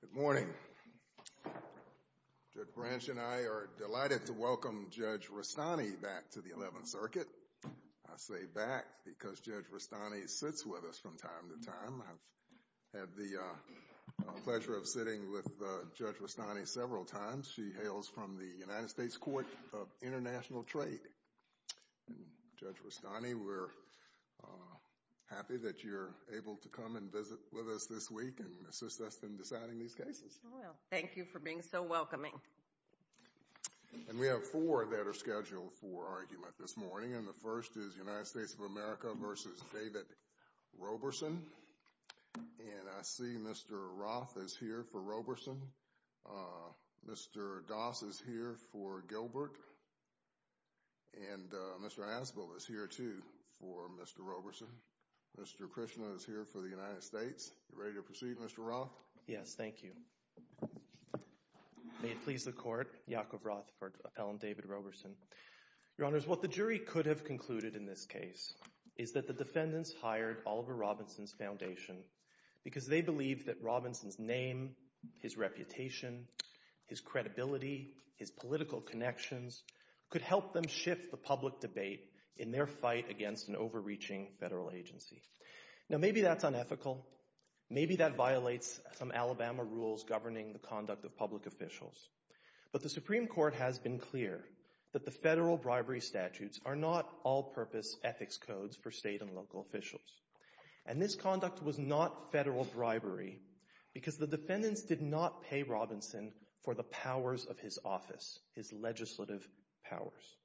Good morning, Judge Branch and I are delighted to welcome Judge Rustani back to the Eleventh Circuit. I say back because Judge Rustani sits with us from time to time. I've had the pleasure of sitting with Judge Rustani several times. She hails from the United States Court of International Trade. Judge Rustani, we're happy that you're able to come and visit with us this week and assist us in deciding these cases. Judge Rustani Well, thank you for being so welcoming. Judge Branch And we have four that are scheduled for argument this morning and the first is United States of America v. David Roberson and I see Mr. Roth is here for Roberson. Mr. Das is here for Gilbert and Mr. Haspel is here too for Mr. Roberson. Mr. Krishna is here for the United States. You ready to proceed, Mr. Roth? Judge Rustani Yes, thank you. May it please the Court, Yakov Roth for Ellen David Roberson. Your Honors, what the jury could have concluded in this case is that the defendants hired Oliver Roberson's foundation because they believed that Roberson's name, his reputation, his credibility, his political connections could help them shift the public debate in their fight against an overreaching federal agency. Now, maybe that's unethical. Maybe that violates some Alabama rules governing the conduct of public officials. But the Supreme Court has been clear that the federal bribery statutes are not all-purpose ethics codes for state and local officials. And this conduct was not federal bribery because the defendants did not pay Roberson for the powers of his office, his legislative powers.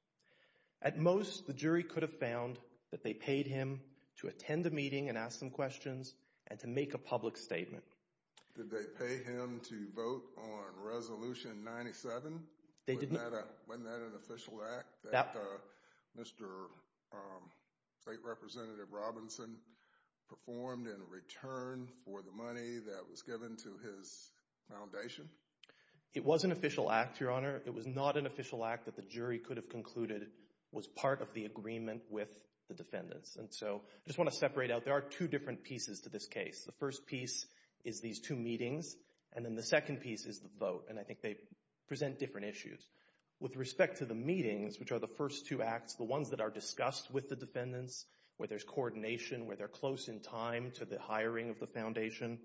At most, the jury could have found that they paid him to attend a meeting and ask some questions and to make a public statement. Did they pay him to vote on Resolution 97? Wasn't that an official act that Mr. State Representative Roberson performed in return for the money that was given to his foundation? It was an official act, Your Honor. It was not an official act that the jury could have concluded was part of the agreement with the defendants. And so, I just want to separate out. There are two different pieces to this case. The first piece is these two meetings, and then the second piece is the vote. And I think they present different issues. With respect to the meetings, which are the first two acts, the ones that are discussed with the defendants, where there's coordination, where they're close in time to the hiring of the foundation,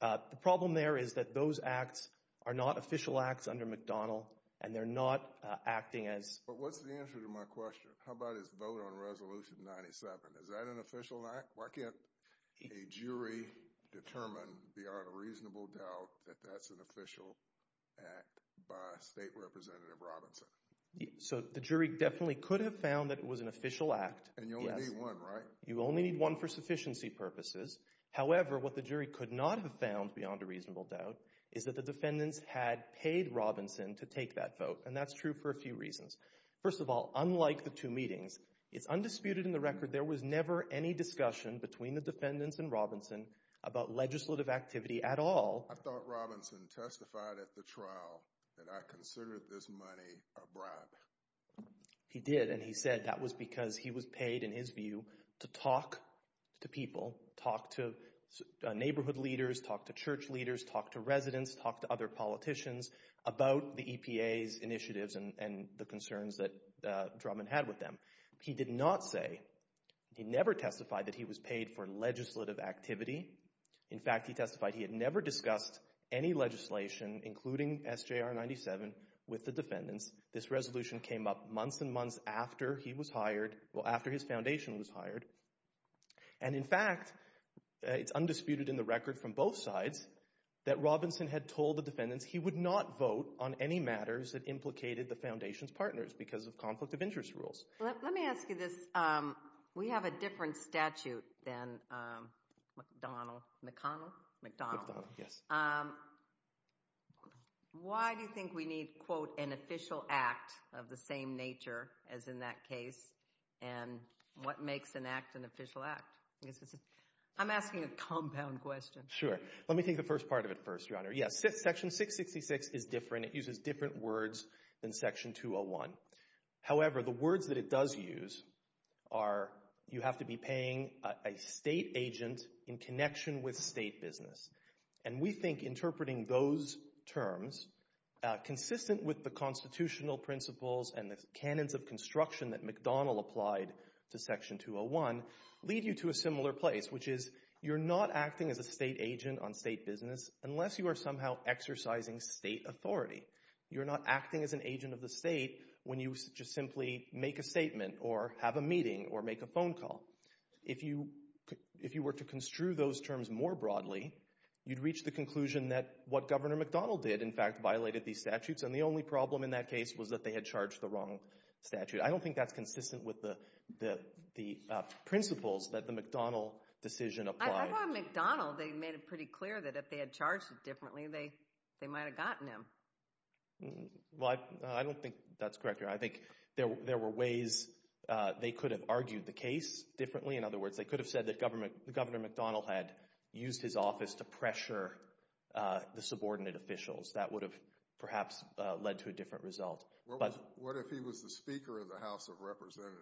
the problem there is that those acts are not official acts under McDonnell and they're not acting as... But what's the answer to my question? How about his vote on Resolution 97? Is that an official act? Why can't a jury determine beyond a reasonable doubt that that's an official act by State Representative Roberson? So, the jury definitely could have found that it was an official act. And you only need one, right? You only need one for sufficiency purposes. However, what the jury could not have found beyond a reasonable doubt is that the defendants had paid Roberson to take that vote, and that's true for a few reasons. First of all, unlike the two meetings, it's undisputed in the record there was never any discussion between the defendants and Roberson about legislative activity at all. I thought Roberson testified at the trial that I considered this money a bribe. He did, and he said that was because he was paid, in his view, to talk to people, talk to neighborhood leaders, talk to church leaders, talk to residents, talk to other politicians about the EPA's initiatives and the concerns that Drummond had with them. In fact, he did not say, he never testified that he was paid for legislative activity. In fact, he testified he had never discussed any legislation, including SJR 97, with the defendants. This resolution came up months and months after he was hired, well, after his foundation was hired. And, in fact, it's undisputed in the record from both sides that Roberson had told the defendants he would not vote on any matters that implicated the foundation's partners because of conflict of interest rules. Let me ask you this. We have a different statute than McDonnell. McConnell? McDonnell. McDonnell, yes. Why do you think we need, quote, an official act of the same nature as in that case? And what makes an act an official act? I'm asking a compound question. Sure. Let me take the first part of it first, Your Honor. Yes, Section 666 is different. It uses different words than Section 201. However, the words that it does use are, you have to be paying a state agent in connection with state business. And we think interpreting those terms, consistent with the constitutional principles and the canons of construction that McDonnell applied to Section 201, lead you to a similar place, which is you're not acting as a state agent on state business unless you are somehow exercising state authority. You're not acting as an agent of the state when you just simply make a statement or have a meeting or make a phone call. If you were to construe those terms more broadly, you'd reach the conclusion that what Governor McDonnell did, in fact, violated these statutes. And the only problem in that case was that they had charged the wrong statute. I don't think that's consistent with the principles that the McDonnell decision applied. I thought McDonnell, they made it pretty clear that if they had charged it differently, they might have gotten him. Well, I don't think that's correct. I think there were ways they could have argued the case differently. In other words, they could have said that Governor McDonnell had used his office to pressure the subordinate officials. That would have perhaps led to a different result. What if he was the Speaker of the House of Representatives?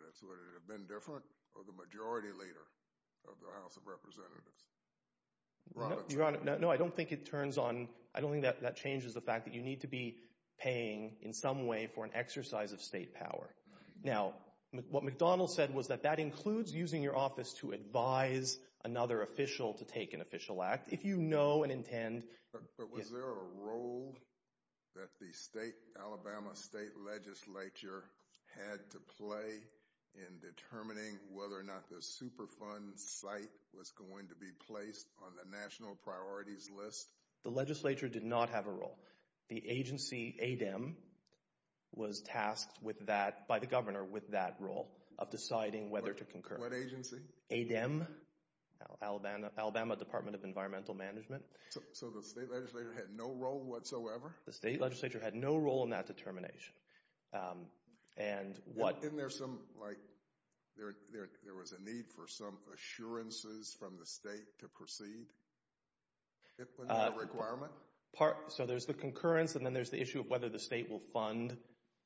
Your Honor, no, I don't think it turns on, I don't think that changes the fact that you need to be paying in some way for an exercise of state power. Now, what McDonnell said was that that includes using your office to advise another official to take an official act. If you know and intend... But was there a role that the Alabama State Legislature had to play in determining whether or not the Superfund site was going to be placed on the national priorities list? The legislature did not have a role. The agency ADEM was tasked with that, by the governor, with that role of deciding whether to concur. What agency? ADEM, Alabama Department of Environmental Management. So the state legislature had no role whatsoever? The state legislature had no role in that determination. And what... And there's some, like, there was a need for some assurances from the state to proceed with the requirement? So there's the concurrence and then there's the issue of whether the state will fund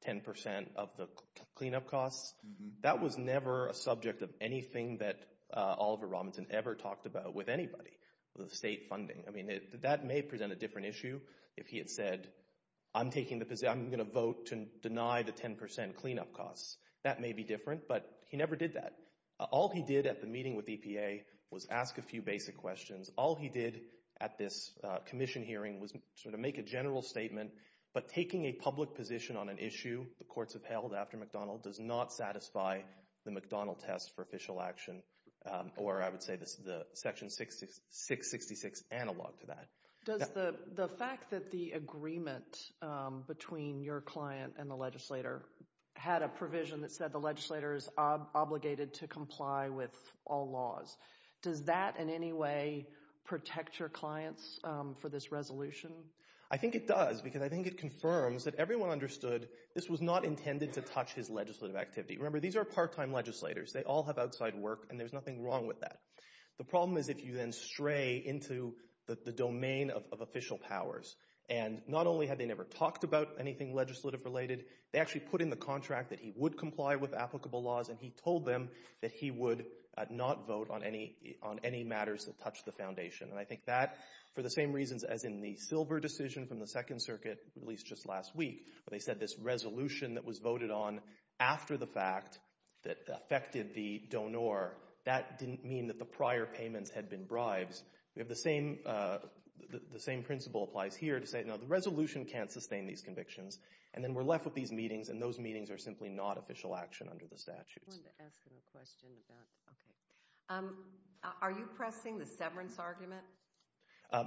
10% of the cleanup costs. That was never a subject of anything that Oliver Robinson ever talked about with anybody, the state funding. I mean, that may present a different issue if he had said, I'm taking the position, I'm going to vote to deny the 10% cleanup costs. That may be different, but he never did that. All he did at the meeting with EPA was ask a few basic questions. All he did at this commission hearing was sort of make a general statement, but taking a public position on an issue the courts have held after McDonnell does not satisfy the McDonnell test for official action, or I would say the Section 666 analog to that. Does the fact that the agreement between your client and the legislator had a provision that said the legislator is obligated to comply with all laws, does that in any way protect your clients for this resolution? I think it does, because I think it confirms that everyone understood this was not intended to touch his legislative activity. Remember, these are part-time legislators. They all have outside work and there's nothing wrong with that. The problem is if you then stray into the domain of official powers, and not only had they never talked about anything legislative-related, they actually put in the contract that he would comply with applicable laws, and he told them that he would not vote on any matters that touched the foundation. And I think that, for the same reasons as in the Silver decision from the Second Circuit, released just last week, where they said this resolution that was voted on after the fact that affected the donor, that didn't mean that the prior payments had been bribes. We have the same principle applies here to say, no, the resolution can't sustain these convictions. And then we're left with these meetings, and those meetings are simply not official action under the statutes. I wanted to ask him a question about that. Okay. Are you pressing the severance argument?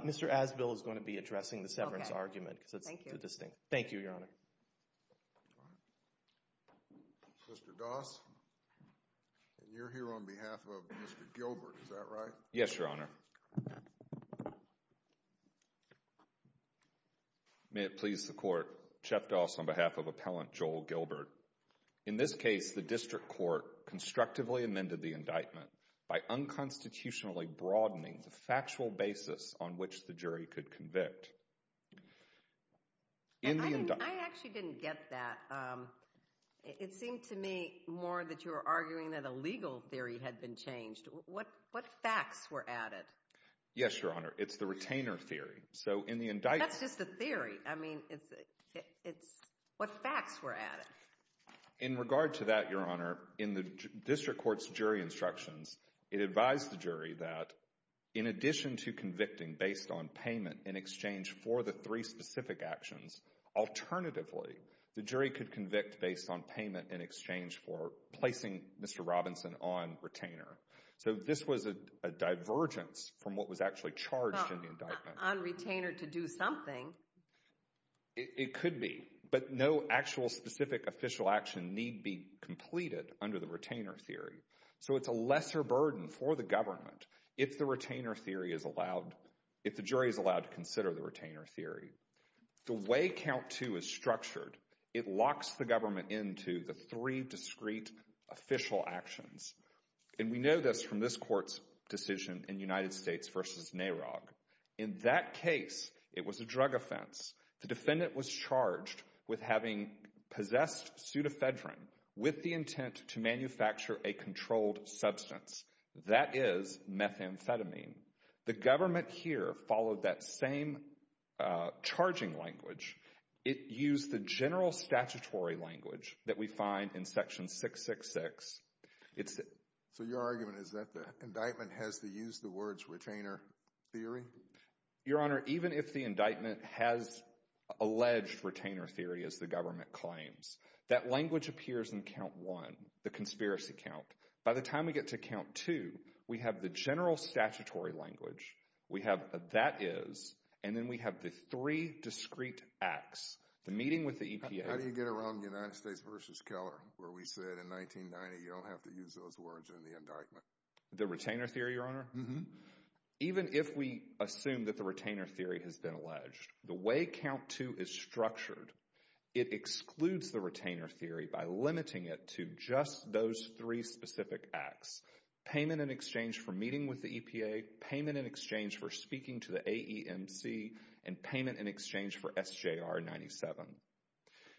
Mr. Asbil is going to be addressing the severance argument, because it's the distinct. Thank you. Thank you, Your Honor. All right. Mr. Doss, you're here on behalf of Mr. Gilbert. Is that right? Yes, Your Honor. May it please the Court. Jeff Doss on behalf of Appellant Joel Gilbert. In this case, the district court constructively amended the indictment by unconstitutionally broadening the factual basis on which the jury could convict. I actually didn't get that. It seemed to me more that you were arguing that a legal theory had been changed. What facts were added? Yes, Your Honor. It's the retainer theory. That's just a theory. I mean, what facts were added? In regard to that, Your Honor, in the district court's jury instructions, it advised the jury that in addition to convicting based on payment in exchange for the three specific actions, alternatively, the jury could convict based on payment in exchange for placing Mr. Robinson on retainer. So this was a divergence from what was actually charged in the indictment. Well, on retainer to do something. It could be, but no actual specific official action need be completed under the retainer theory. So it's a lesser burden for the government if the jury is allowed to consider the retainer theory. The way Count II is structured, it locks the government into the three discrete official actions. And we know this from this court's decision in United States v. NAROG. In that case, it was a drug offense. The defendant was charged with having possessed pseudoephedrine with the intent to manufacture a controlled substance. That is methamphetamine. The government here followed that same charging language. It used the general statutory language that we find in Section 666. So your argument is that the indictment has to use the words retainer theory? Your Honor, even if the indictment has alleged retainer theory as the government claims, that language appears in Count I, the conspiracy count. By the time we get to Count II, we have the general statutory language. We have a that is, and then we have the three discrete acts, the meeting with the EPA. How do you get around United States v. Keller where we said in 1990 you don't have to use those words in the indictment? The retainer theory, Your Honor? Even if we assume that the retainer theory has been alleged, the way Count II is structured, it excludes the retainer theory by limiting it to just those three specific acts, payment in exchange for meeting with the EPA, payment in exchange for speaking to the AEMC, and payment in exchange for SJR 97.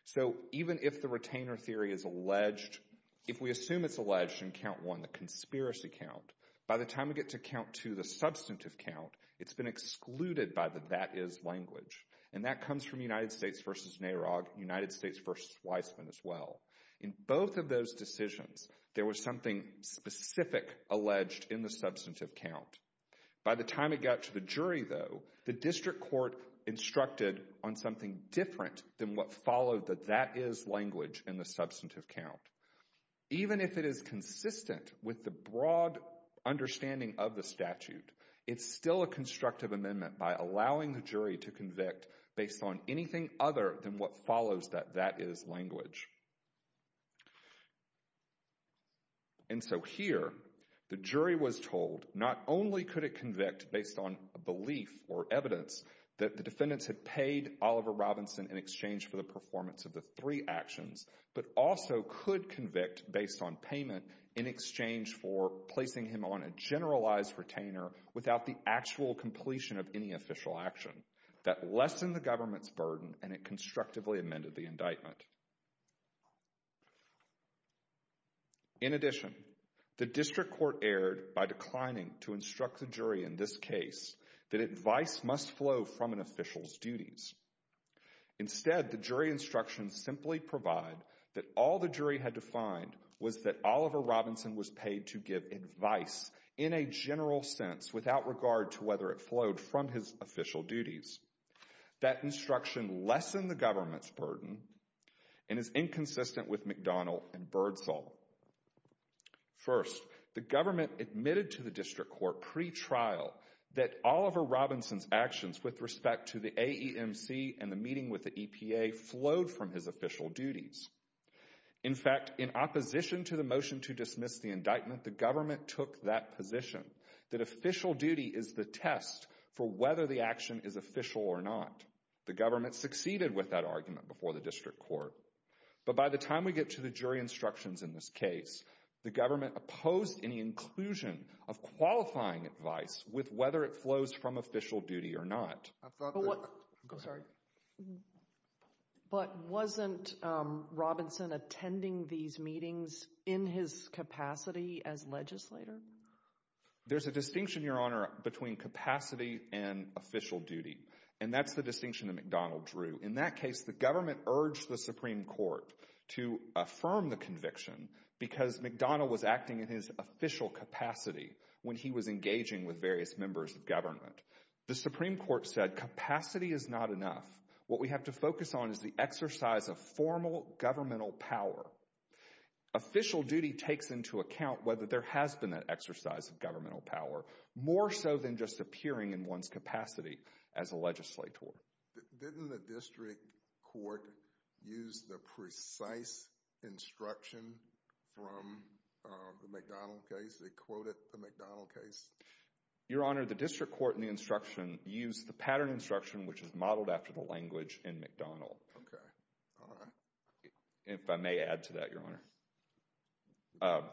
So even if the retainer theory is alleged, if we assume it's alleged in Count I, the conspiracy count, by the time we get to Count II, the substantive count, it's been excluded by the that is language. And that comes from United States v. NAROG, United States v. Weisman as well. In both of those decisions, there was something specific alleged in the substantive count. By the time it got to the jury, though, the district court instructed on something different than what followed the that is language in the substantive count. Even if it is consistent with the broad understanding of the statute, it's still a constructive amendment by allowing the jury to convict based on anything other than what follows that that is language. And so here, the jury was told not only could it convict based on belief or evidence that the defendants had paid Oliver Robinson in exchange for the performance of the three actions, but also could convict based on payment in exchange for placing him on a generalized retainer without the actual completion of any official action. That lessened the government's burden, and it constructively amended the indictment. In addition, the district court erred by declining to instruct the jury in this case that advice must flow from an official's duties. Instead, the jury instructions simply provide that all the jury had to find was that Oliver Robinson was paid to give advice in a general sense without regard to whether it flowed from his official duties. That instruction lessened the government's burden and is inconsistent with McDonnell and Birdsall. First, the government admitted to the district court pre-trial that Oliver Robinson's actions with respect to the AEMC and the meeting with the EPA flowed from his official duties. In fact, in opposition to the motion to dismiss the indictment, the government took that position, that official duty is the test for whether the action is official or not. The government succeeded with that argument before the district court. But by the time we get to the jury instructions in this case, the government opposed any inclusion of qualifying advice with whether it flows from official duty or not. But wasn't Robinson attending these meetings in his capacity as legislator? There's a distinction, Your Honor, between capacity and official duty, and that's the distinction that McDonnell drew. In that case, the government urged the Supreme Court to affirm the conviction because McDonnell was acting in his official capacity when he was engaging with various members of government. The Supreme Court said capacity is not enough. What we have to focus on is the exercise of formal governmental power. Official duty takes into account whether there has been an exercise of governmental power, more so than just appearing in one's capacity as a legislator. Didn't the district court use the precise instruction from the McDonnell case? They quoted the McDonnell case? Your Honor, the district court in the instruction used the pattern instruction, which is modeled after the language in McDonnell. Okay. All right. If I may add to that, Your Honor.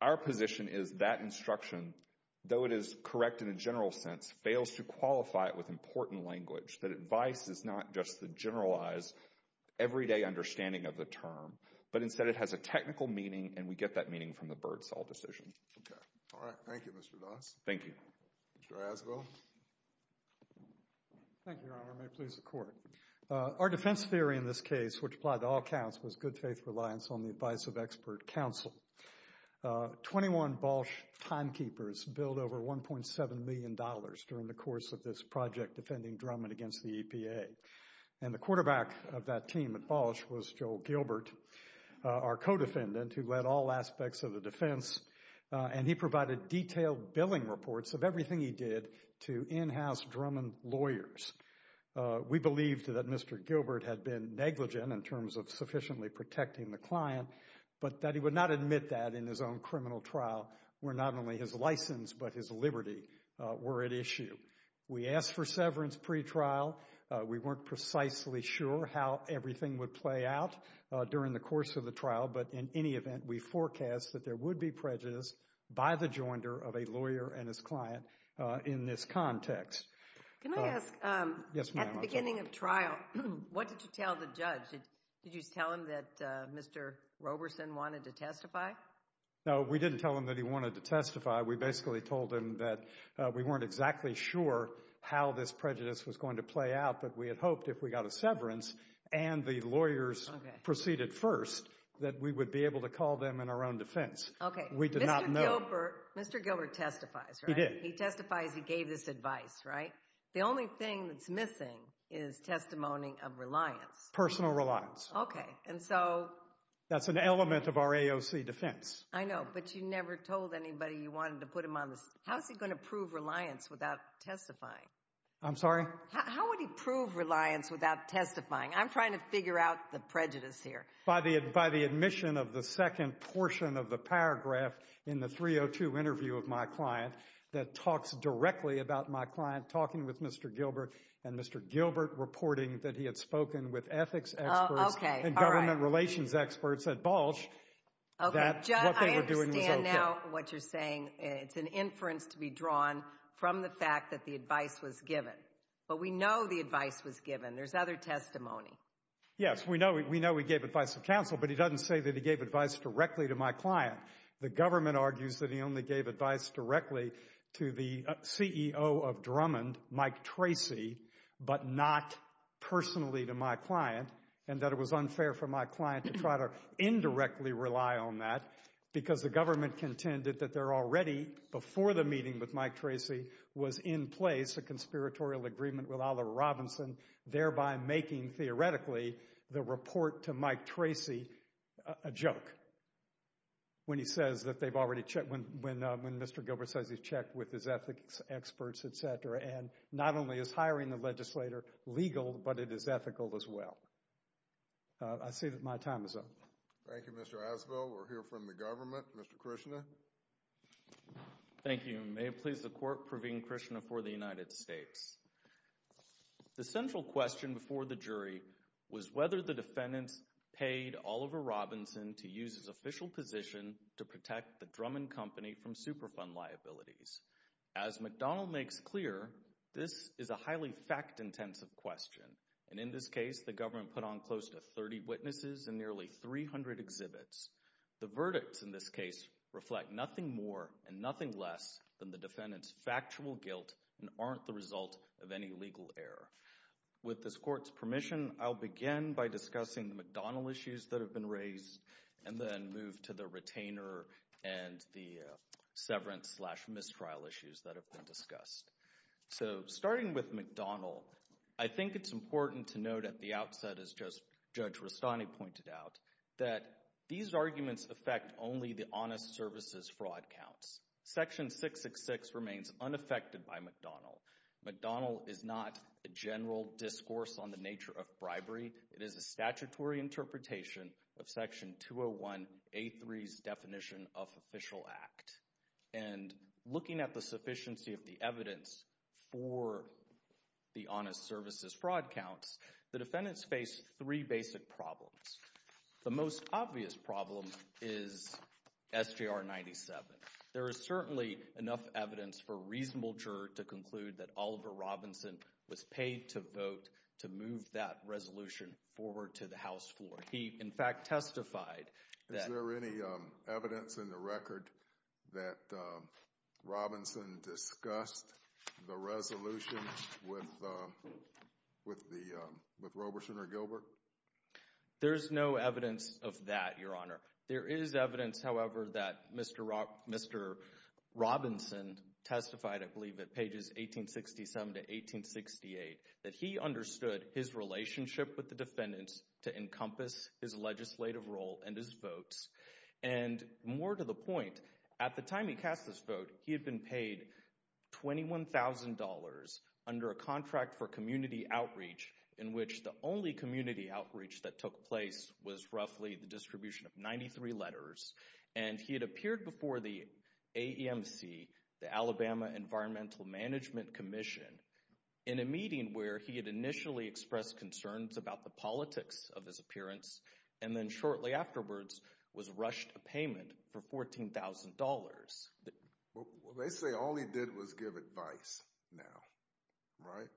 Our position is that instruction, though it is correct in a general sense, fails to qualify it with important language. That advice is not just the generalized, everyday understanding of the term, but instead it has a technical meaning, and we get that meaning from the Birdsall decision. Okay. All right. Thank you, Mr. Dodds. Thank you. Mr. Haskell. Thank you, Your Honor. May it please the Court. Our defense theory in this case, which applied to all counts, was good faith reliance on the advice of expert counsel. Twenty-one Balsh timekeepers billed over $1.7 million during the course of this project defending Drummond against the EPA. And the quarterback of that team at Balsh was Joel Gilbert, our co-defendant who led all aspects of the defense, and he provided detailed billing reports of everything he did to in-house Drummond lawyers. We believed that Mr. Gilbert had been negligent in terms of sufficiently protecting the client, but that he would not admit that in his own criminal trial, where not only his license but his liberty were at issue. We asked for severance pretrial. We weren't precisely sure how everything would play out during the course of the trial, but in any event, we forecast that there would be prejudice by the joinder of a lawyer and his client in this context. Can I ask, at the beginning of trial, what did you tell the judge? Did you tell him that Mr. Roberson wanted to testify? No, we didn't tell him that he wanted to testify. We basically told him that we weren't exactly sure how this prejudice was going to play out, but we had hoped if we got a severance and the lawyers proceeded first, that we would be able to call them in our own defense. Okay. Mr. Gilbert testifies, right? He did. He testifies. He gave this advice, right? The only thing that's missing is testimony of reliance. Personal reliance. Okay, and so? That's an element of our AOC defense. I know, but you never told anybody you wanted to put him on the stand. How is he going to prove reliance without testifying? I'm sorry? How would he prove reliance without testifying? I'm trying to figure out the prejudice here. By the admission of the second portion of the paragraph in the 302 interview of my client that talks directly about my client talking with Mr. Gilbert and Mr. Gilbert reporting that he had spoken with ethics experts and government relations experts at Balch, that what they were doing was okay. Okay, Judd, I understand now what you're saying. It's an inference to be drawn from the fact that the advice was given. But we know the advice was given. There's other testimony. Yes, we know he gave advice to counsel, but he doesn't say that he gave advice directly to my client. The government argues that he only gave advice directly to the CEO of Drummond, Mike Tracy, but not personally to my client, and that it was unfair for my client to try to indirectly rely on that because the government contended that there already, before the meeting with Mike Tracy, was in place a conspiratorial agreement with Oliver Robinson, thereby making, theoretically, the report to Mike Tracy a joke. When he says that they've already checked, when Mr. Gilbert says he's checked with his ethics experts, etc., and not only is hiring the legislator legal, but it is ethical as well. I say that my time is up. Thank you, Mr. Haspel. We'll hear from the government. Mr. Krishna. Thank you. May it please the Court, Praveen Krishna for the United States. The central question before the jury was whether the defendants paid Oliver Robinson to use his official position to protect the Drummond Company from Superfund liabilities. As McDonnell makes clear, this is a highly fact-intensive question, and in this case the government put on close to 30 witnesses and nearly 300 exhibits. The verdicts in this case reflect nothing more and nothing less than the defendants' factual guilt and aren't the result of any legal error. With this Court's permission, I'll begin by discussing McDonnell issues that have been raised and then move to the retainer and the severance-slash-mistrial issues that have been discussed. So starting with McDonnell, I think it's important to note at the outset, as Judge Rastani pointed out, that these arguments affect only the honest services fraud counts. McDonnell is not a general discourse on the nature of bribery. It is a statutory interpretation of Section 201A3's definition of official act. And looking at the sufficiency of the evidence for the honest services fraud counts, the defendants face three basic problems. The most obvious problem is SJR 97. There is certainly enough evidence for a reasonable juror to conclude that Oliver Robinson was paid to vote to move that resolution forward to the House floor. He, in fact, testified that— Is there any evidence in the record that Robinson discussed the resolution with Roberson or Gilbert? There is no evidence of that, Your Honor. There is evidence, however, that Mr. Robinson testified, I believe, at pages 1867 to 1868, that he understood his relationship with the defendants to encompass his legislative role and his votes. And more to the point, at the time he cast this vote, he had been paid $21,000 under a contract for community outreach in which the only community outreach that took place was roughly the distribution of 93 letters. And he had appeared before the AEMC, the Alabama Environmental Management Commission, in a meeting where he had initially expressed concerns about the politics of his appearance and then shortly afterwards was rushed a payment for $14,000. Well, they say all he did was give advice now, right?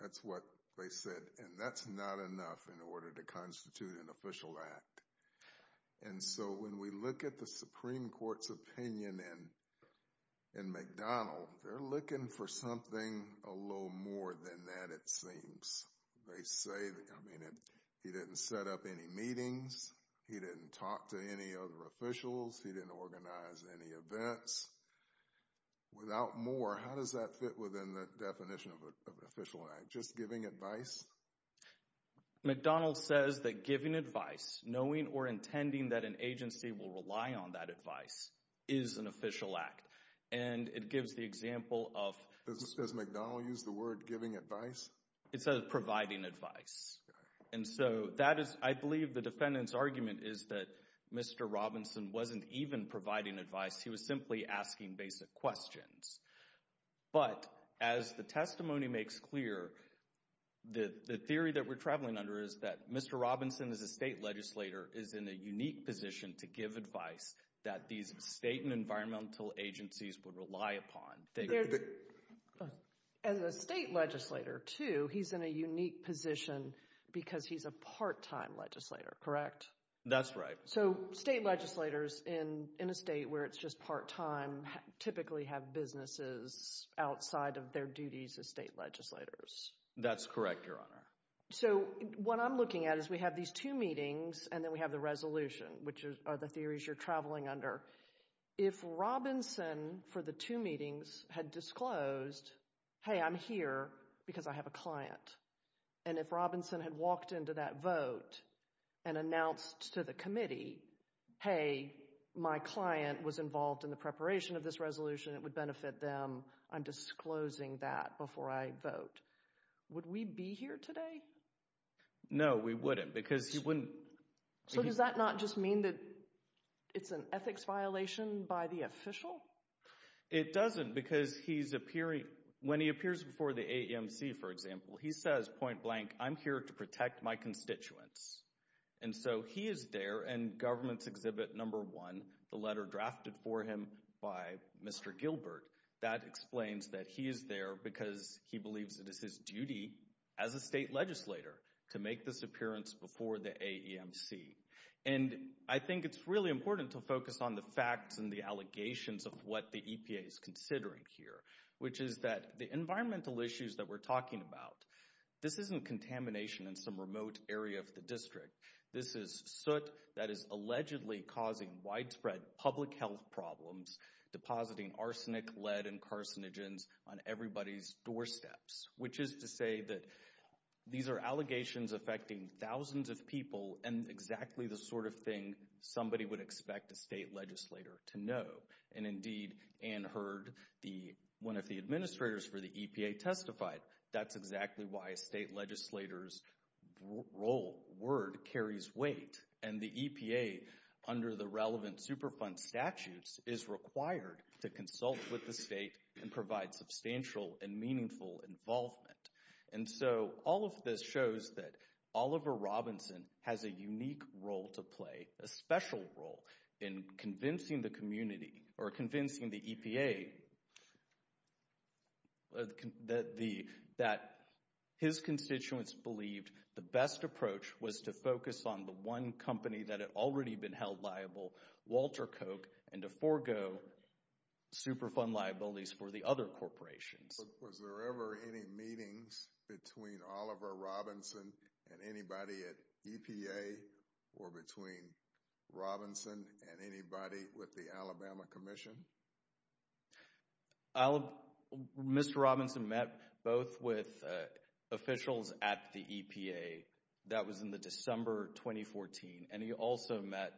That's what they said, and that's not enough in order to constitute an official act. And so when we look at the Supreme Court's opinion in McDonald, they're looking for something a little more than that, it seems. They say, I mean, he didn't set up any meetings. He didn't talk to any other officials. He didn't organize any events. Without more, how does that fit within the definition of an official act? Just giving advice? McDonald says that giving advice, knowing or intending that an agency will rely on that advice, is an official act. And it gives the example of— Does McDonald use the word giving advice? It says providing advice. And so that is, I believe the defendant's argument is that Mr. Robinson wasn't even providing advice. He was simply asking basic questions. But as the testimony makes clear, the theory that we're traveling under is that Mr. Robinson, as a state legislator, is in a unique position to give advice that these state and environmental agencies would rely upon. As a state legislator, too, he's in a unique position because he's a part-time legislator, correct? That's right. So state legislators in a state where it's just part-time typically have businesses outside of their duties as state legislators. That's correct, Your Honor. So what I'm looking at is we have these two meetings, and then we have the resolution, which are the theories you're traveling under. If Robinson, for the two meetings, had disclosed, hey, I'm here because I have a client, and if Robinson had walked into that vote and announced to the committee, hey, my client was involved in the preparation of this resolution, it would benefit them, I'm disclosing that before I vote, would we be here today? No, we wouldn't because he wouldn't. So does that not just mean that it's an ethics violation by the official? It doesn't because when he appears before the AEMC, for example, he says point blank, I'm here to protect my constituents. And so he is there, and government's exhibit number one, the letter drafted for him by Mr. Gilbert, that explains that he is there because he believes it is his duty as a state legislator to make this appearance before the AEMC. And I think it's really important to focus on the facts and the allegations of what the EPA is considering here, which is that the environmental issues that we're talking about, this isn't contamination in some remote area of the district. This is soot that is allegedly causing widespread public health problems, depositing arsenic, lead, and carcinogens on everybody's doorsteps, which is to say that these are allegations affecting thousands of people, and exactly the sort of thing somebody would expect a state legislator to know. And indeed, Anne heard one of the administrators for the EPA testify. That's exactly why a state legislator's word carries weight. And the EPA, under the relevant Superfund statutes, is required to consult with the state and provide substantial and meaningful involvement. And so all of this shows that Oliver Robinson has a unique role to play, a special role, in convincing the EPA that his constituents believed the best approach was to focus on the one company that had already been held liable, Walter Coke, and to forego Superfund liabilities for the other corporations. Was there ever any meetings between Oliver Robinson and anybody at EPA, or between Robinson and anybody with the Alabama Commission? Mr. Robinson met both with officials at the EPA. That was in the December 2014, and he also met,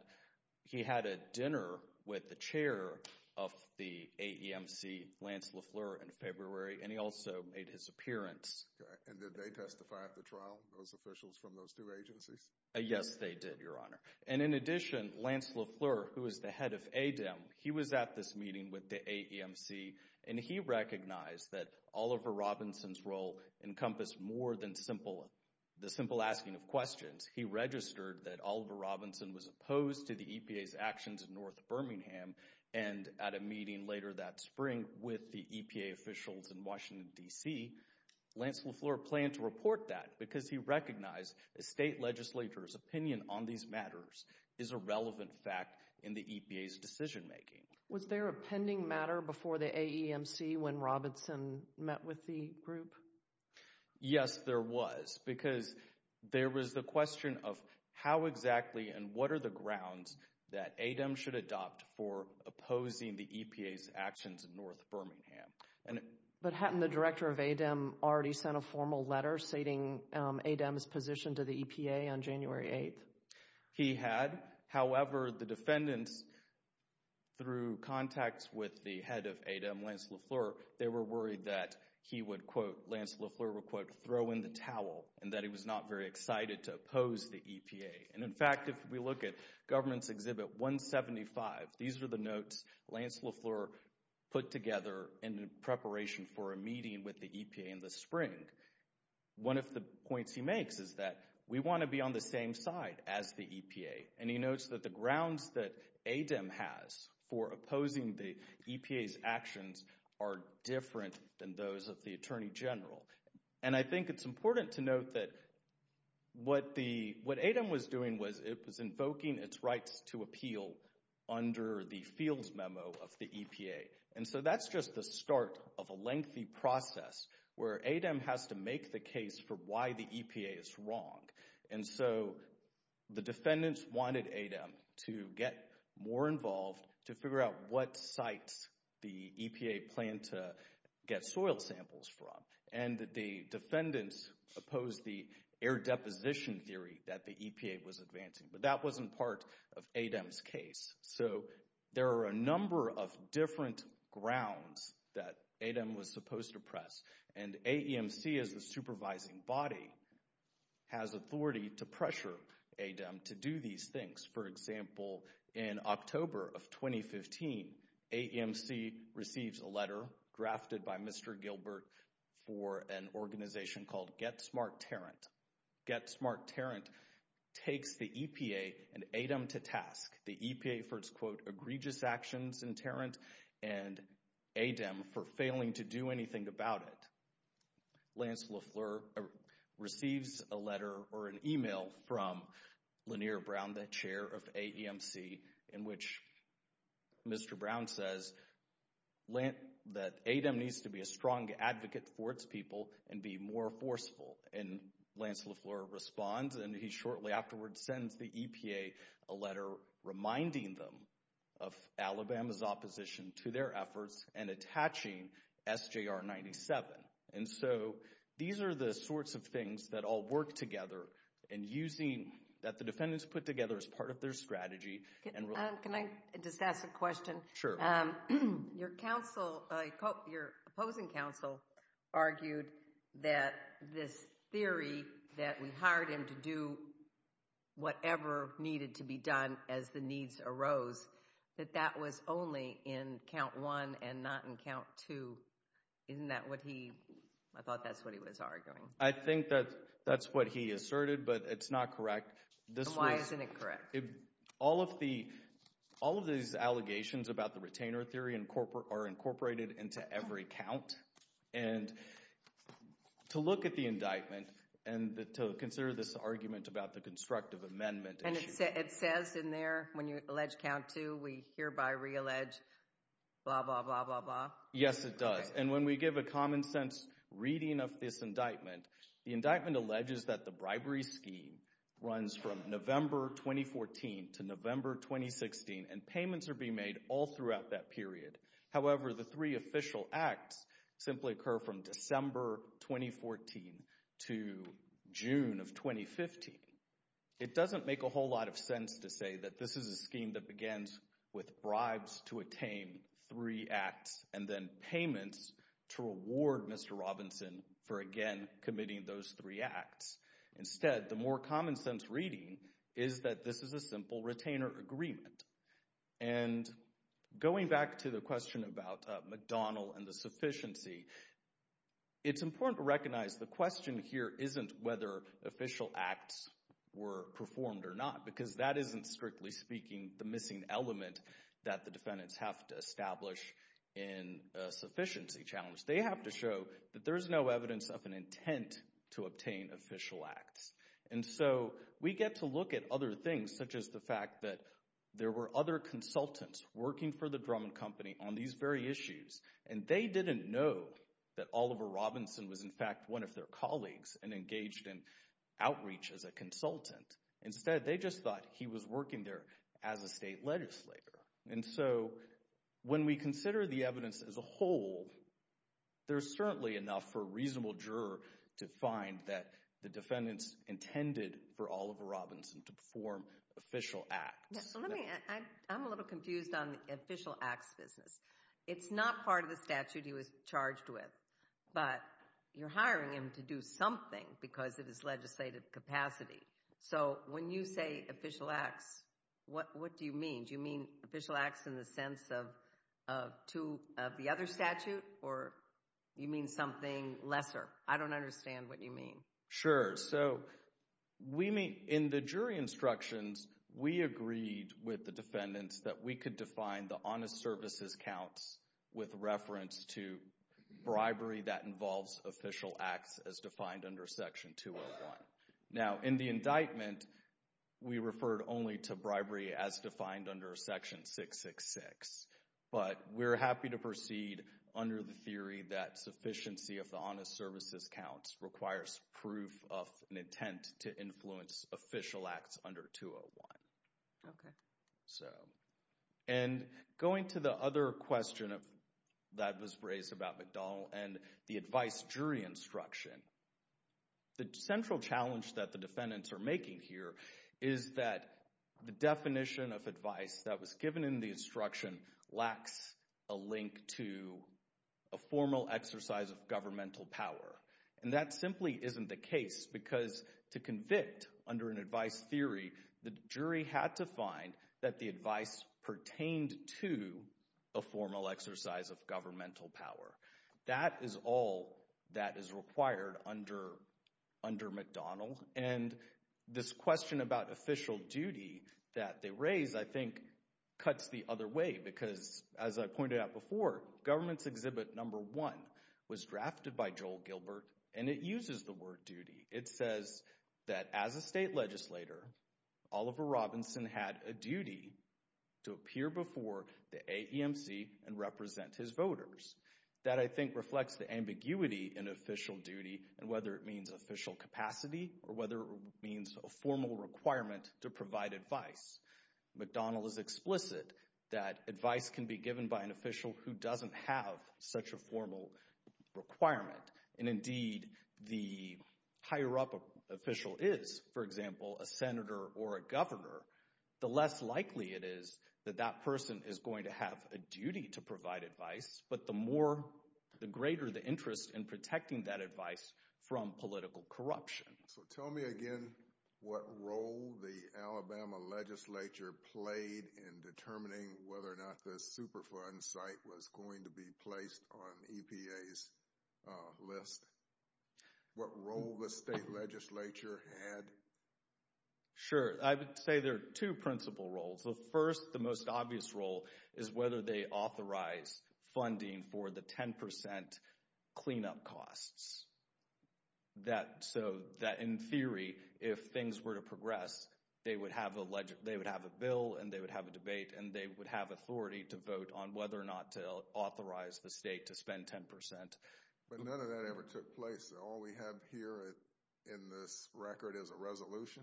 he had a dinner with the chair of the AEMC, Lance LaFleur, in February, and he also made his appearance. And did they testify at the trial, those officials from those two agencies? Yes, they did, Your Honor. And in addition, Lance LaFleur, who is the head of ADEM, he was at this meeting with the AEMC, and he recognized that Oliver Robinson's role encompassed more than the simple asking of questions. He registered that Oliver Robinson was opposed to the EPA's actions in North Birmingham, and at a meeting later that spring with the EPA officials in Washington, D.C., Lance LaFleur planned to report that, because he recognized the state legislature's opinion on these matters is a relevant fact in the EPA's decision-making. Was there a pending matter before the AEMC when Robinson met with the group? Yes, there was, because there was the question of how exactly and what are the grounds that ADEM should adopt for opposing the EPA's actions in North Birmingham. But hadn't the director of ADEM already sent a formal letter stating ADEM's position to the EPA on January 8th? He had. However, the defendants, through contacts with the head of ADEM, Lance LaFleur, they were worried that he would, quote, Lance LaFleur would, quote, throw in the towel and that he was not very excited to oppose the EPA. And in fact, if we look at Government's Exhibit 175, these are the notes Lance LaFleur put together in preparation for a meeting with the EPA in the spring. One of the points he makes is that we want to be on the same side as the EPA. And he notes that the grounds that ADEM has for opposing the EPA's actions are different than those of the Attorney General. And I think it's important to note that what ADEM was doing was it was invoking its rights to appeal under the fields memo of the EPA. And so that's just the start of a lengthy process where ADEM has to make the case for why the EPA is wrong. And so the defendants wanted ADEM to get more involved to figure out what sites the EPA planned to get soil samples from. And the defendants opposed the air deposition theory that the EPA was advancing. But that wasn't part of ADEM's case. So there are a number of different grounds that ADEM was supposed to press. And AEMC as a supervising body has authority to pressure ADEM to do these things. For example, in October of 2015, AEMC receives a letter drafted by Mr. Gilbert for an organization called Get Smart Tarrant. Get Smart Tarrant takes the EPA and ADEM to task. The EPA for its, quote, egregious actions in Tarrant and ADEM for failing to do anything about it. Lance LeFleur receives a letter or an email from Lanier Brown, the chair of AEMC, in which Mr. Brown says that ADEM needs to be a strong advocate for its people and be more forceful. And Lance LeFleur responds and he shortly afterwards sends the EPA a letter reminding them of Alabama's opposition to their efforts and attaching SJR 97. And so these are the sorts of things that all work together and using that the defendants put together as part of their strategy. Can I just ask a question? Sure. Your opposing counsel argued that this theory that we hired him to do whatever needed to be done as the needs arose, that that was only in count one and not in count two. Isn't that what he, I thought that's what he was arguing. I think that that's what he asserted, but it's not correct. Why isn't it correct? All of these allegations about the retainer theory are incorporated into every count. And to look at the indictment and to consider this argument about the constructive amendment issue. And it says in there when you allege count two, we hereby reallege blah, blah, blah, blah, blah. Yes, it does. And when we give a common sense reading of this indictment, the indictment alleges that the bribery scheme runs from November 2014 to November 2016. And payments are being made all throughout that period. However, the three official acts simply occur from December 2014 to June of 2015. It doesn't make a whole lot of sense to say that this is a scheme that begins with bribes to attain three acts and then payments to reward Mr. Robinson for again committing those three acts. Instead, the more common sense reading is that this is a simple retainer agreement. And going back to the question about McDonnell and the sufficiency, it's important to recognize the question here isn't whether official acts were performed or not. Because that isn't, strictly speaking, the missing element that the defendants have to establish in a sufficiency challenge. They have to show that there is no evidence of an intent to obtain official acts. And so we get to look at other things such as the fact that there were other consultants working for the Drummond Company on these very issues. And they didn't know that Oliver Robinson was, in fact, one of their colleagues and engaged in outreach as a consultant. Instead, they just thought he was working there as a state legislator. And so when we consider the evidence as a whole, there's certainly enough for a reasonable juror to find that the defendants intended for Oliver Robinson to perform official acts. I'm a little confused on the official acts business. It's not part of the statute he was charged with, but you're hiring him to do something because of his legislative capacity. So when you say official acts, what do you mean? Do you mean official acts in the sense of the other statute, or do you mean something lesser? I don't understand what you mean. Sure. So in the jury instructions, we agreed with the defendants that we could define the honest services counts with reference to bribery that involves official acts as defined under Section 201. Now, in the indictment, we referred only to bribery as defined under Section 666. But we're happy to proceed under the theory that sufficiency of the honest services counts requires proof of an intent to influence official acts under 201. Okay. And going to the other question that was raised about McDonald and the advice jury instruction, the central challenge that the defendants are making here is that the definition of advice that was given in the instruction lacks a link to a formal exercise of governmental power. And that simply isn't the case because to convict under an advice theory, the jury had to find that the advice pertained to a formal exercise of governmental power. That is all that is required under McDonald. And this question about official duty that they raise, I think, cuts the other way because, as I pointed out before, government's exhibit number one was drafted by Joel Gilbert, and it uses the word duty. It says that as a state legislator, Oliver Robinson had a duty to appear before the AEMC and represent his voters. That, I think, reflects the ambiguity in official duty and whether it means official capacity or whether it means a formal requirement to provide advice. McDonald is explicit that advice can be given by an official who doesn't have such a formal requirement. And, indeed, the higher-up official is, for example, a senator or a governor. The less likely it is that that person is going to have a duty to provide advice, but the greater the interest in protecting that advice from political corruption. So tell me again what role the Alabama legislature played in determining whether or not the Superfund site was going to be placed on EPA's list. What role the state legislature had? Sure. I would say there are two principal roles. The first, the most obvious role, is whether they authorize funding for the 10% cleanup costs. So that, in theory, if things were to progress, they would have a bill and they would have a debate and they would have authority to vote on whether or not to authorize the state to spend 10%. But none of that ever took place. All we have here in this record is a resolution?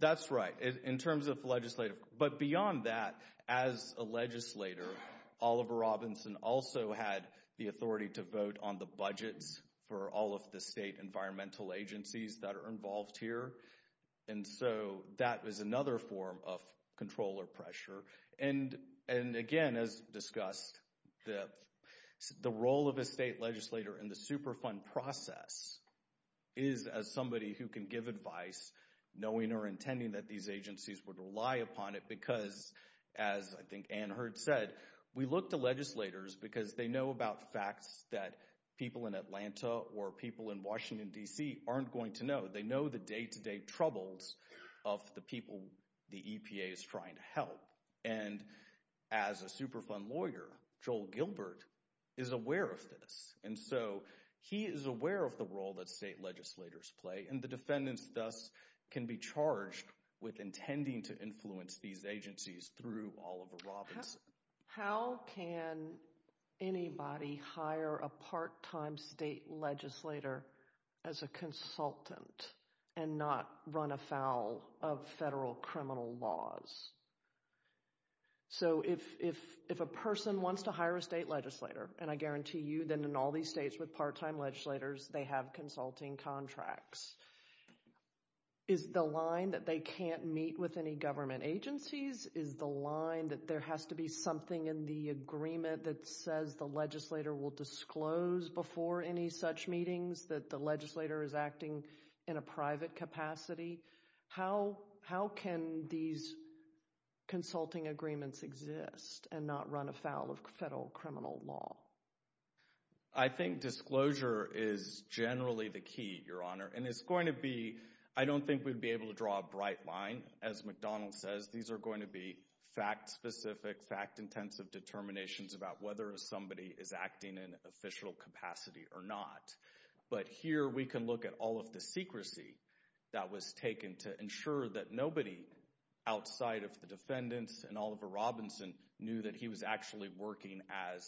That's right. In terms of legislative, but beyond that, as a legislator, Oliver Robinson also had the authority to vote on the budgets for all of the state environmental agencies that are involved here. And so that was another form of controller pressure. And again, as discussed, the role of a state legislator in the Superfund process is as somebody who can give advice, knowing or intending that these agencies would rely upon it because, as I think Anne Heard said, we look to legislators because they know about facts that people in Atlanta or people in Washington, D.C. aren't going to know. They know the day-to-day troubles of the people the EPA is trying to help. And as a Superfund lawyer, Joel Gilbert is aware of this. And so he is aware of the role that state legislators play, and the defendants thus can be charged with intending to influence these agencies through Oliver Robinson. How can anybody hire a part-time state legislator as a consultant and not run afoul of federal criminal laws? So if a person wants to hire a state legislator, and I guarantee you that in all these states with part-time legislators, they have consulting contracts, is the line that they can't meet with any government agencies? Is the line that there has to be something in the agreement that says the legislator will disclose before any such meetings that the legislator is acting in a private capacity? How can these consulting agreements exist and not run afoul of federal criminal law? I think disclosure is generally the key, Your Honor. And it's going to be – I don't think we'd be able to draw a bright line. As McDonald says, these are going to be fact-specific, fact-intensive determinations about whether somebody is acting in official capacity or not. But here we can look at all of the secrecy that was taken to ensure that nobody outside of the defendants and Oliver Robinson knew that he was actually working as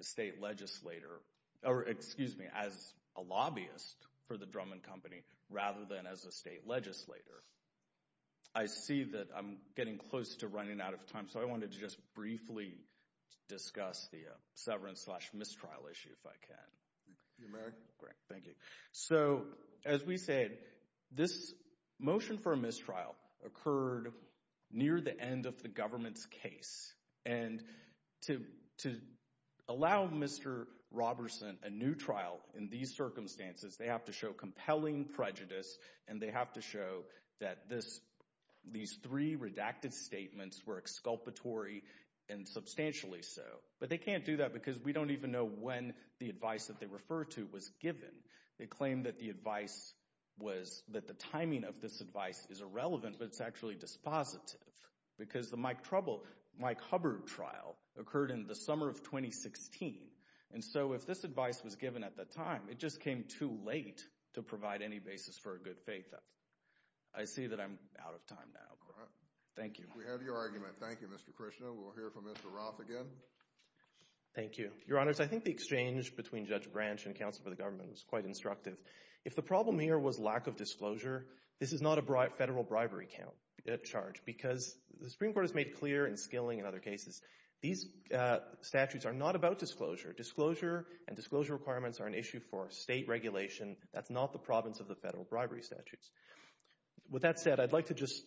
a state legislator – or excuse me, as a lobbyist for the Drummond Company rather than as a state legislator. I see that I'm getting close to running out of time, so I wanted to just briefly discuss the severance-slash-mistrial issue if I can. Thank you. So, as we said, this motion for a mistrial occurred near the end of the government's case. And to allow Mr. Roberson a new trial in these circumstances, they have to show compelling prejudice and they have to show that these three redacted statements were exculpatory and substantially so. But they can't do that because we don't even know when the advice that they refer to was given. They claim that the advice was – that the timing of this advice is irrelevant, but it's actually dispositive because the Mike Hubbard trial occurred in the summer of 2016. And so if this advice was given at that time, it just came too late to provide any basis for a good faith. I see that I'm out of time now. Thank you. We have your argument. Thank you, Mr. Krishna. We'll hear from Mr. Roth again. Thank you. Your Honors, I think the exchange between Judge Branch and counsel for the government was quite instructive. If the problem here was lack of disclosure, this is not a federal bribery charge because the Supreme Court has made clear in Skilling and other cases, these statutes are not about disclosure. Disclosure and disclosure requirements are an issue for state regulation. That's not the province of the federal bribery statutes. With that said, I'd like to just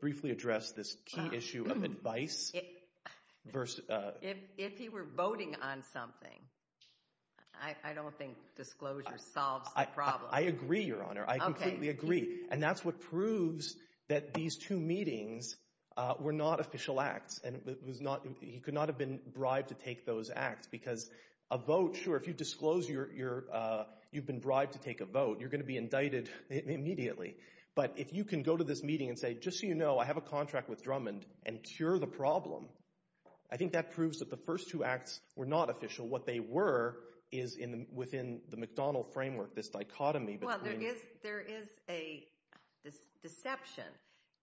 briefly address this key issue of advice. If he were voting on something, I don't think disclosure solves the problem. I agree, Your Honor. I completely agree. And that's what proves that these two meetings were not official acts. He could not have been bribed to take those acts because a vote, sure, if you disclose you've been bribed to take a vote, you're going to be indicted immediately. But if you can go to this meeting and say, just so you know, I have a contract with Drummond and cure the problem, I think that proves that the first two acts were not official. What they were is within the McDonnell framework, this dichotomy. Well, there is a deception.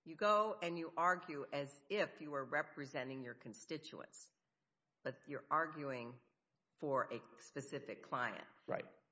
You go and you argue as if you are representing your constituents, but you're arguing for a specific client.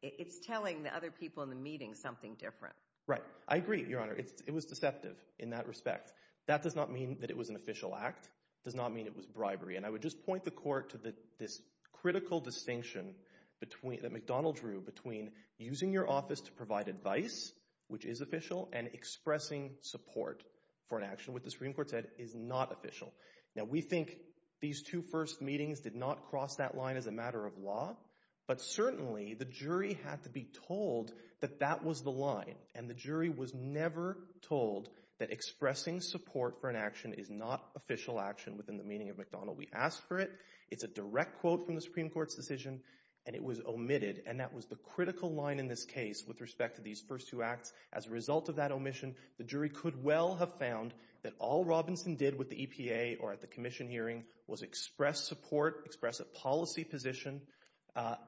It's telling the other people in the meeting something different. Right. I agree, Your Honor. It was deceptive in that respect. That does not mean that it was an official act. It does not mean it was bribery. And I would just point the court to this critical distinction that McDonnell drew between using your office to provide advice, which is official, and expressing support for an action. What the Supreme Court said is not official. Now, we think these two first meetings did not cross that line as a matter of law, but certainly the jury had to be told that that was the line. And the jury was never told that expressing support for an action is not official action within the meaning of McDonnell. We asked for it. It's a direct quote from the Supreme Court's decision, and it was omitted, and that was the critical line in this case with respect to these first two acts. As a result of that omission, the jury could well have found that all Robinson did with the EPA or at the commission hearing was express support, express a policy position,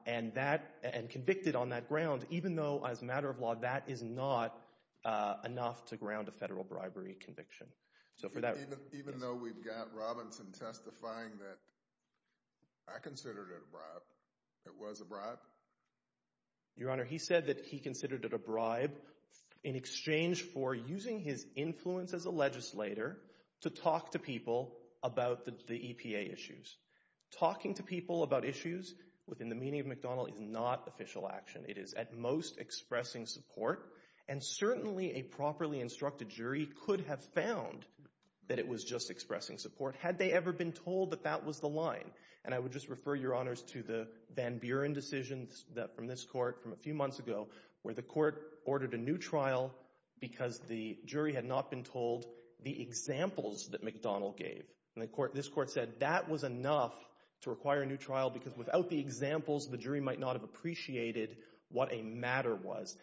and convicted on that ground, even though as a matter of law that is not enough to ground a federal bribery conviction. Even though we've got Robinson testifying that I considered it a bribe, it was a bribe? Your Honor, he said that he considered it a bribe in exchange for using his influence as a legislator to talk to people about the EPA issues. Talking to people about issues within the meaning of McDonnell is not official action. It is at most expressing support, and certainly a properly instructed jury could have found that it was just expressing support had they ever been told that that was the line. And I would just refer, Your Honors, to the Van Buren decision from this court from a few months ago where the court ordered a new trial because the jury had not been told the examples that McDonnell gave. And this court said that was enough to require a new trial because without the examples, the jury might not have appreciated what a matter was.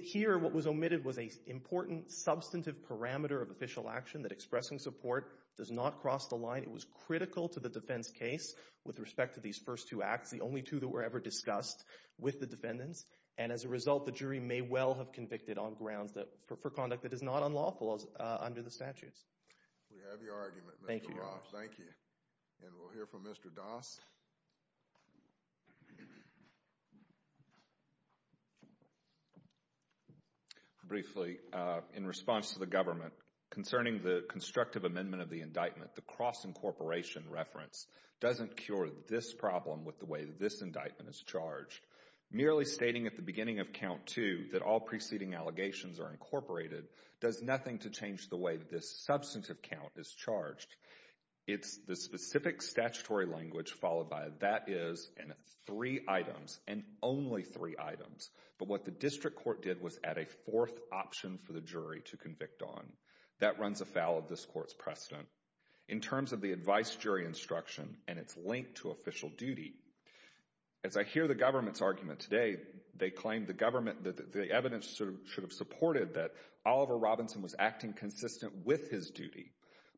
Here, what was omitted was an important substantive parameter of official action that expressing support does not cross the line. It was critical to the defense case with respect to these first two acts, the only two that were ever discussed with the defendants. And as a result, the jury may well have convicted on grounds for conduct that is not unlawful under the statutes. We have your argument, Mr. Roth. Thank you. And we'll hear from Mr. Das. Briefly, in response to the government, concerning the constructive amendment of the indictment, the cross-incorporation reference doesn't cure this problem with the way this indictment is charged. Merely stating at the beginning of count two that all preceding allegations are incorporated does nothing to change the way this substantive count is charged. It's the specific statutory language followed by a that is and three items and only three items. But what the district court did was add a fourth option for the jury to convict on. That runs afoul of this court's precedent. In terms of the advice jury instruction and its link to official duty. As I hear the government's argument today, they claim the government that the evidence should have supported that Oliver Robinson was acting consistent with his duty.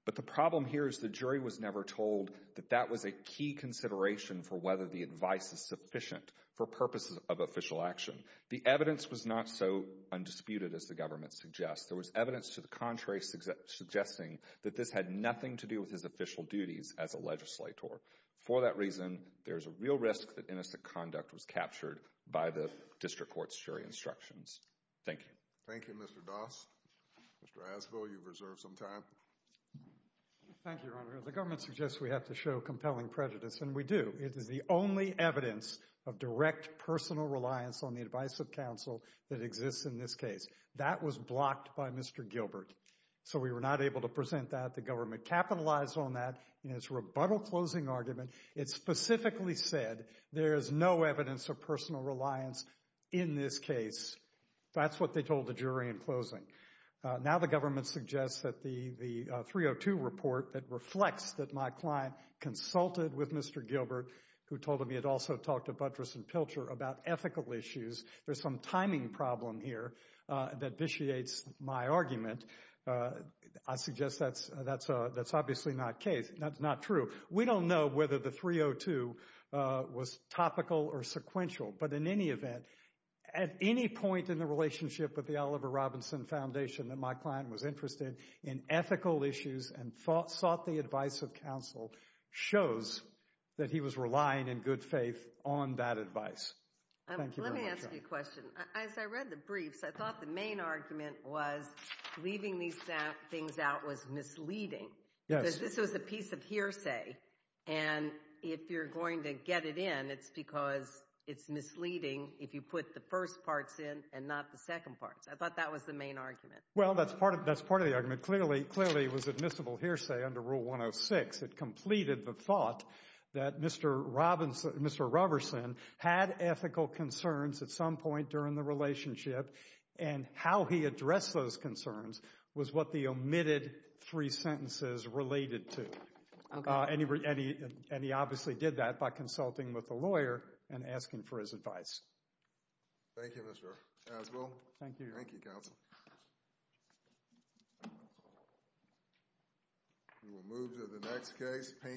But the problem here is the jury was never told that that was a key consideration for whether the advice is sufficient for purposes of official action. The evidence was not so undisputed as the government suggests. There was evidence to the contrary, suggesting that this had nothing to do with his official duties as a legislator. For that reason, there's a real risk that innocent conduct was captured by the district court's jury instructions. Thank you. Thank you, Mr. Doss. Mr. Haspel, you've reserved some time. Thank you, Your Honor. The government suggests we have to show compelling prejudice, and we do. It is the only evidence of direct personal reliance on the advice of counsel that exists in this case. That was blocked by Mr. Gilbert, so we were not able to present that. The government capitalized on that in its rebuttal closing argument. It specifically said there is no evidence of personal reliance in this case. That's what they told the jury in closing. Now the government suggests that the 302 report that reflects that my client consulted with Mr. Gilbert, who told him he had also talked to Buttress and Pilcher about ethical issues. There's some timing problem here that vitiates my argument. I suggest that's obviously not true. We don't know whether the 302 was topical or sequential. But in any event, at any point in the relationship with the Oliver Robinson Foundation that my client was interested in ethical issues and sought the advice of counsel shows that he was relying in good faith on that advice. Thank you very much. Let me ask you a question. As I read the briefs, I thought the main argument was leaving these things out was misleading. Yes. Because this was a piece of hearsay, and if you're going to get it in, it's because it's misleading if you put the first parts in and not the second parts. I thought that was the main argument. Well, that's part of the argument. Clearly it was admissible hearsay under Rule 106. It completed the thought that Mr. Robinson had ethical concerns at some point during the relationship and how he addressed those concerns was what the omitted three sentences related to. And he obviously did that by consulting with the lawyer and asking for his advice. Thank you, Mr. Haswell. Thank you. Thank you, counsel. We will move to the next case.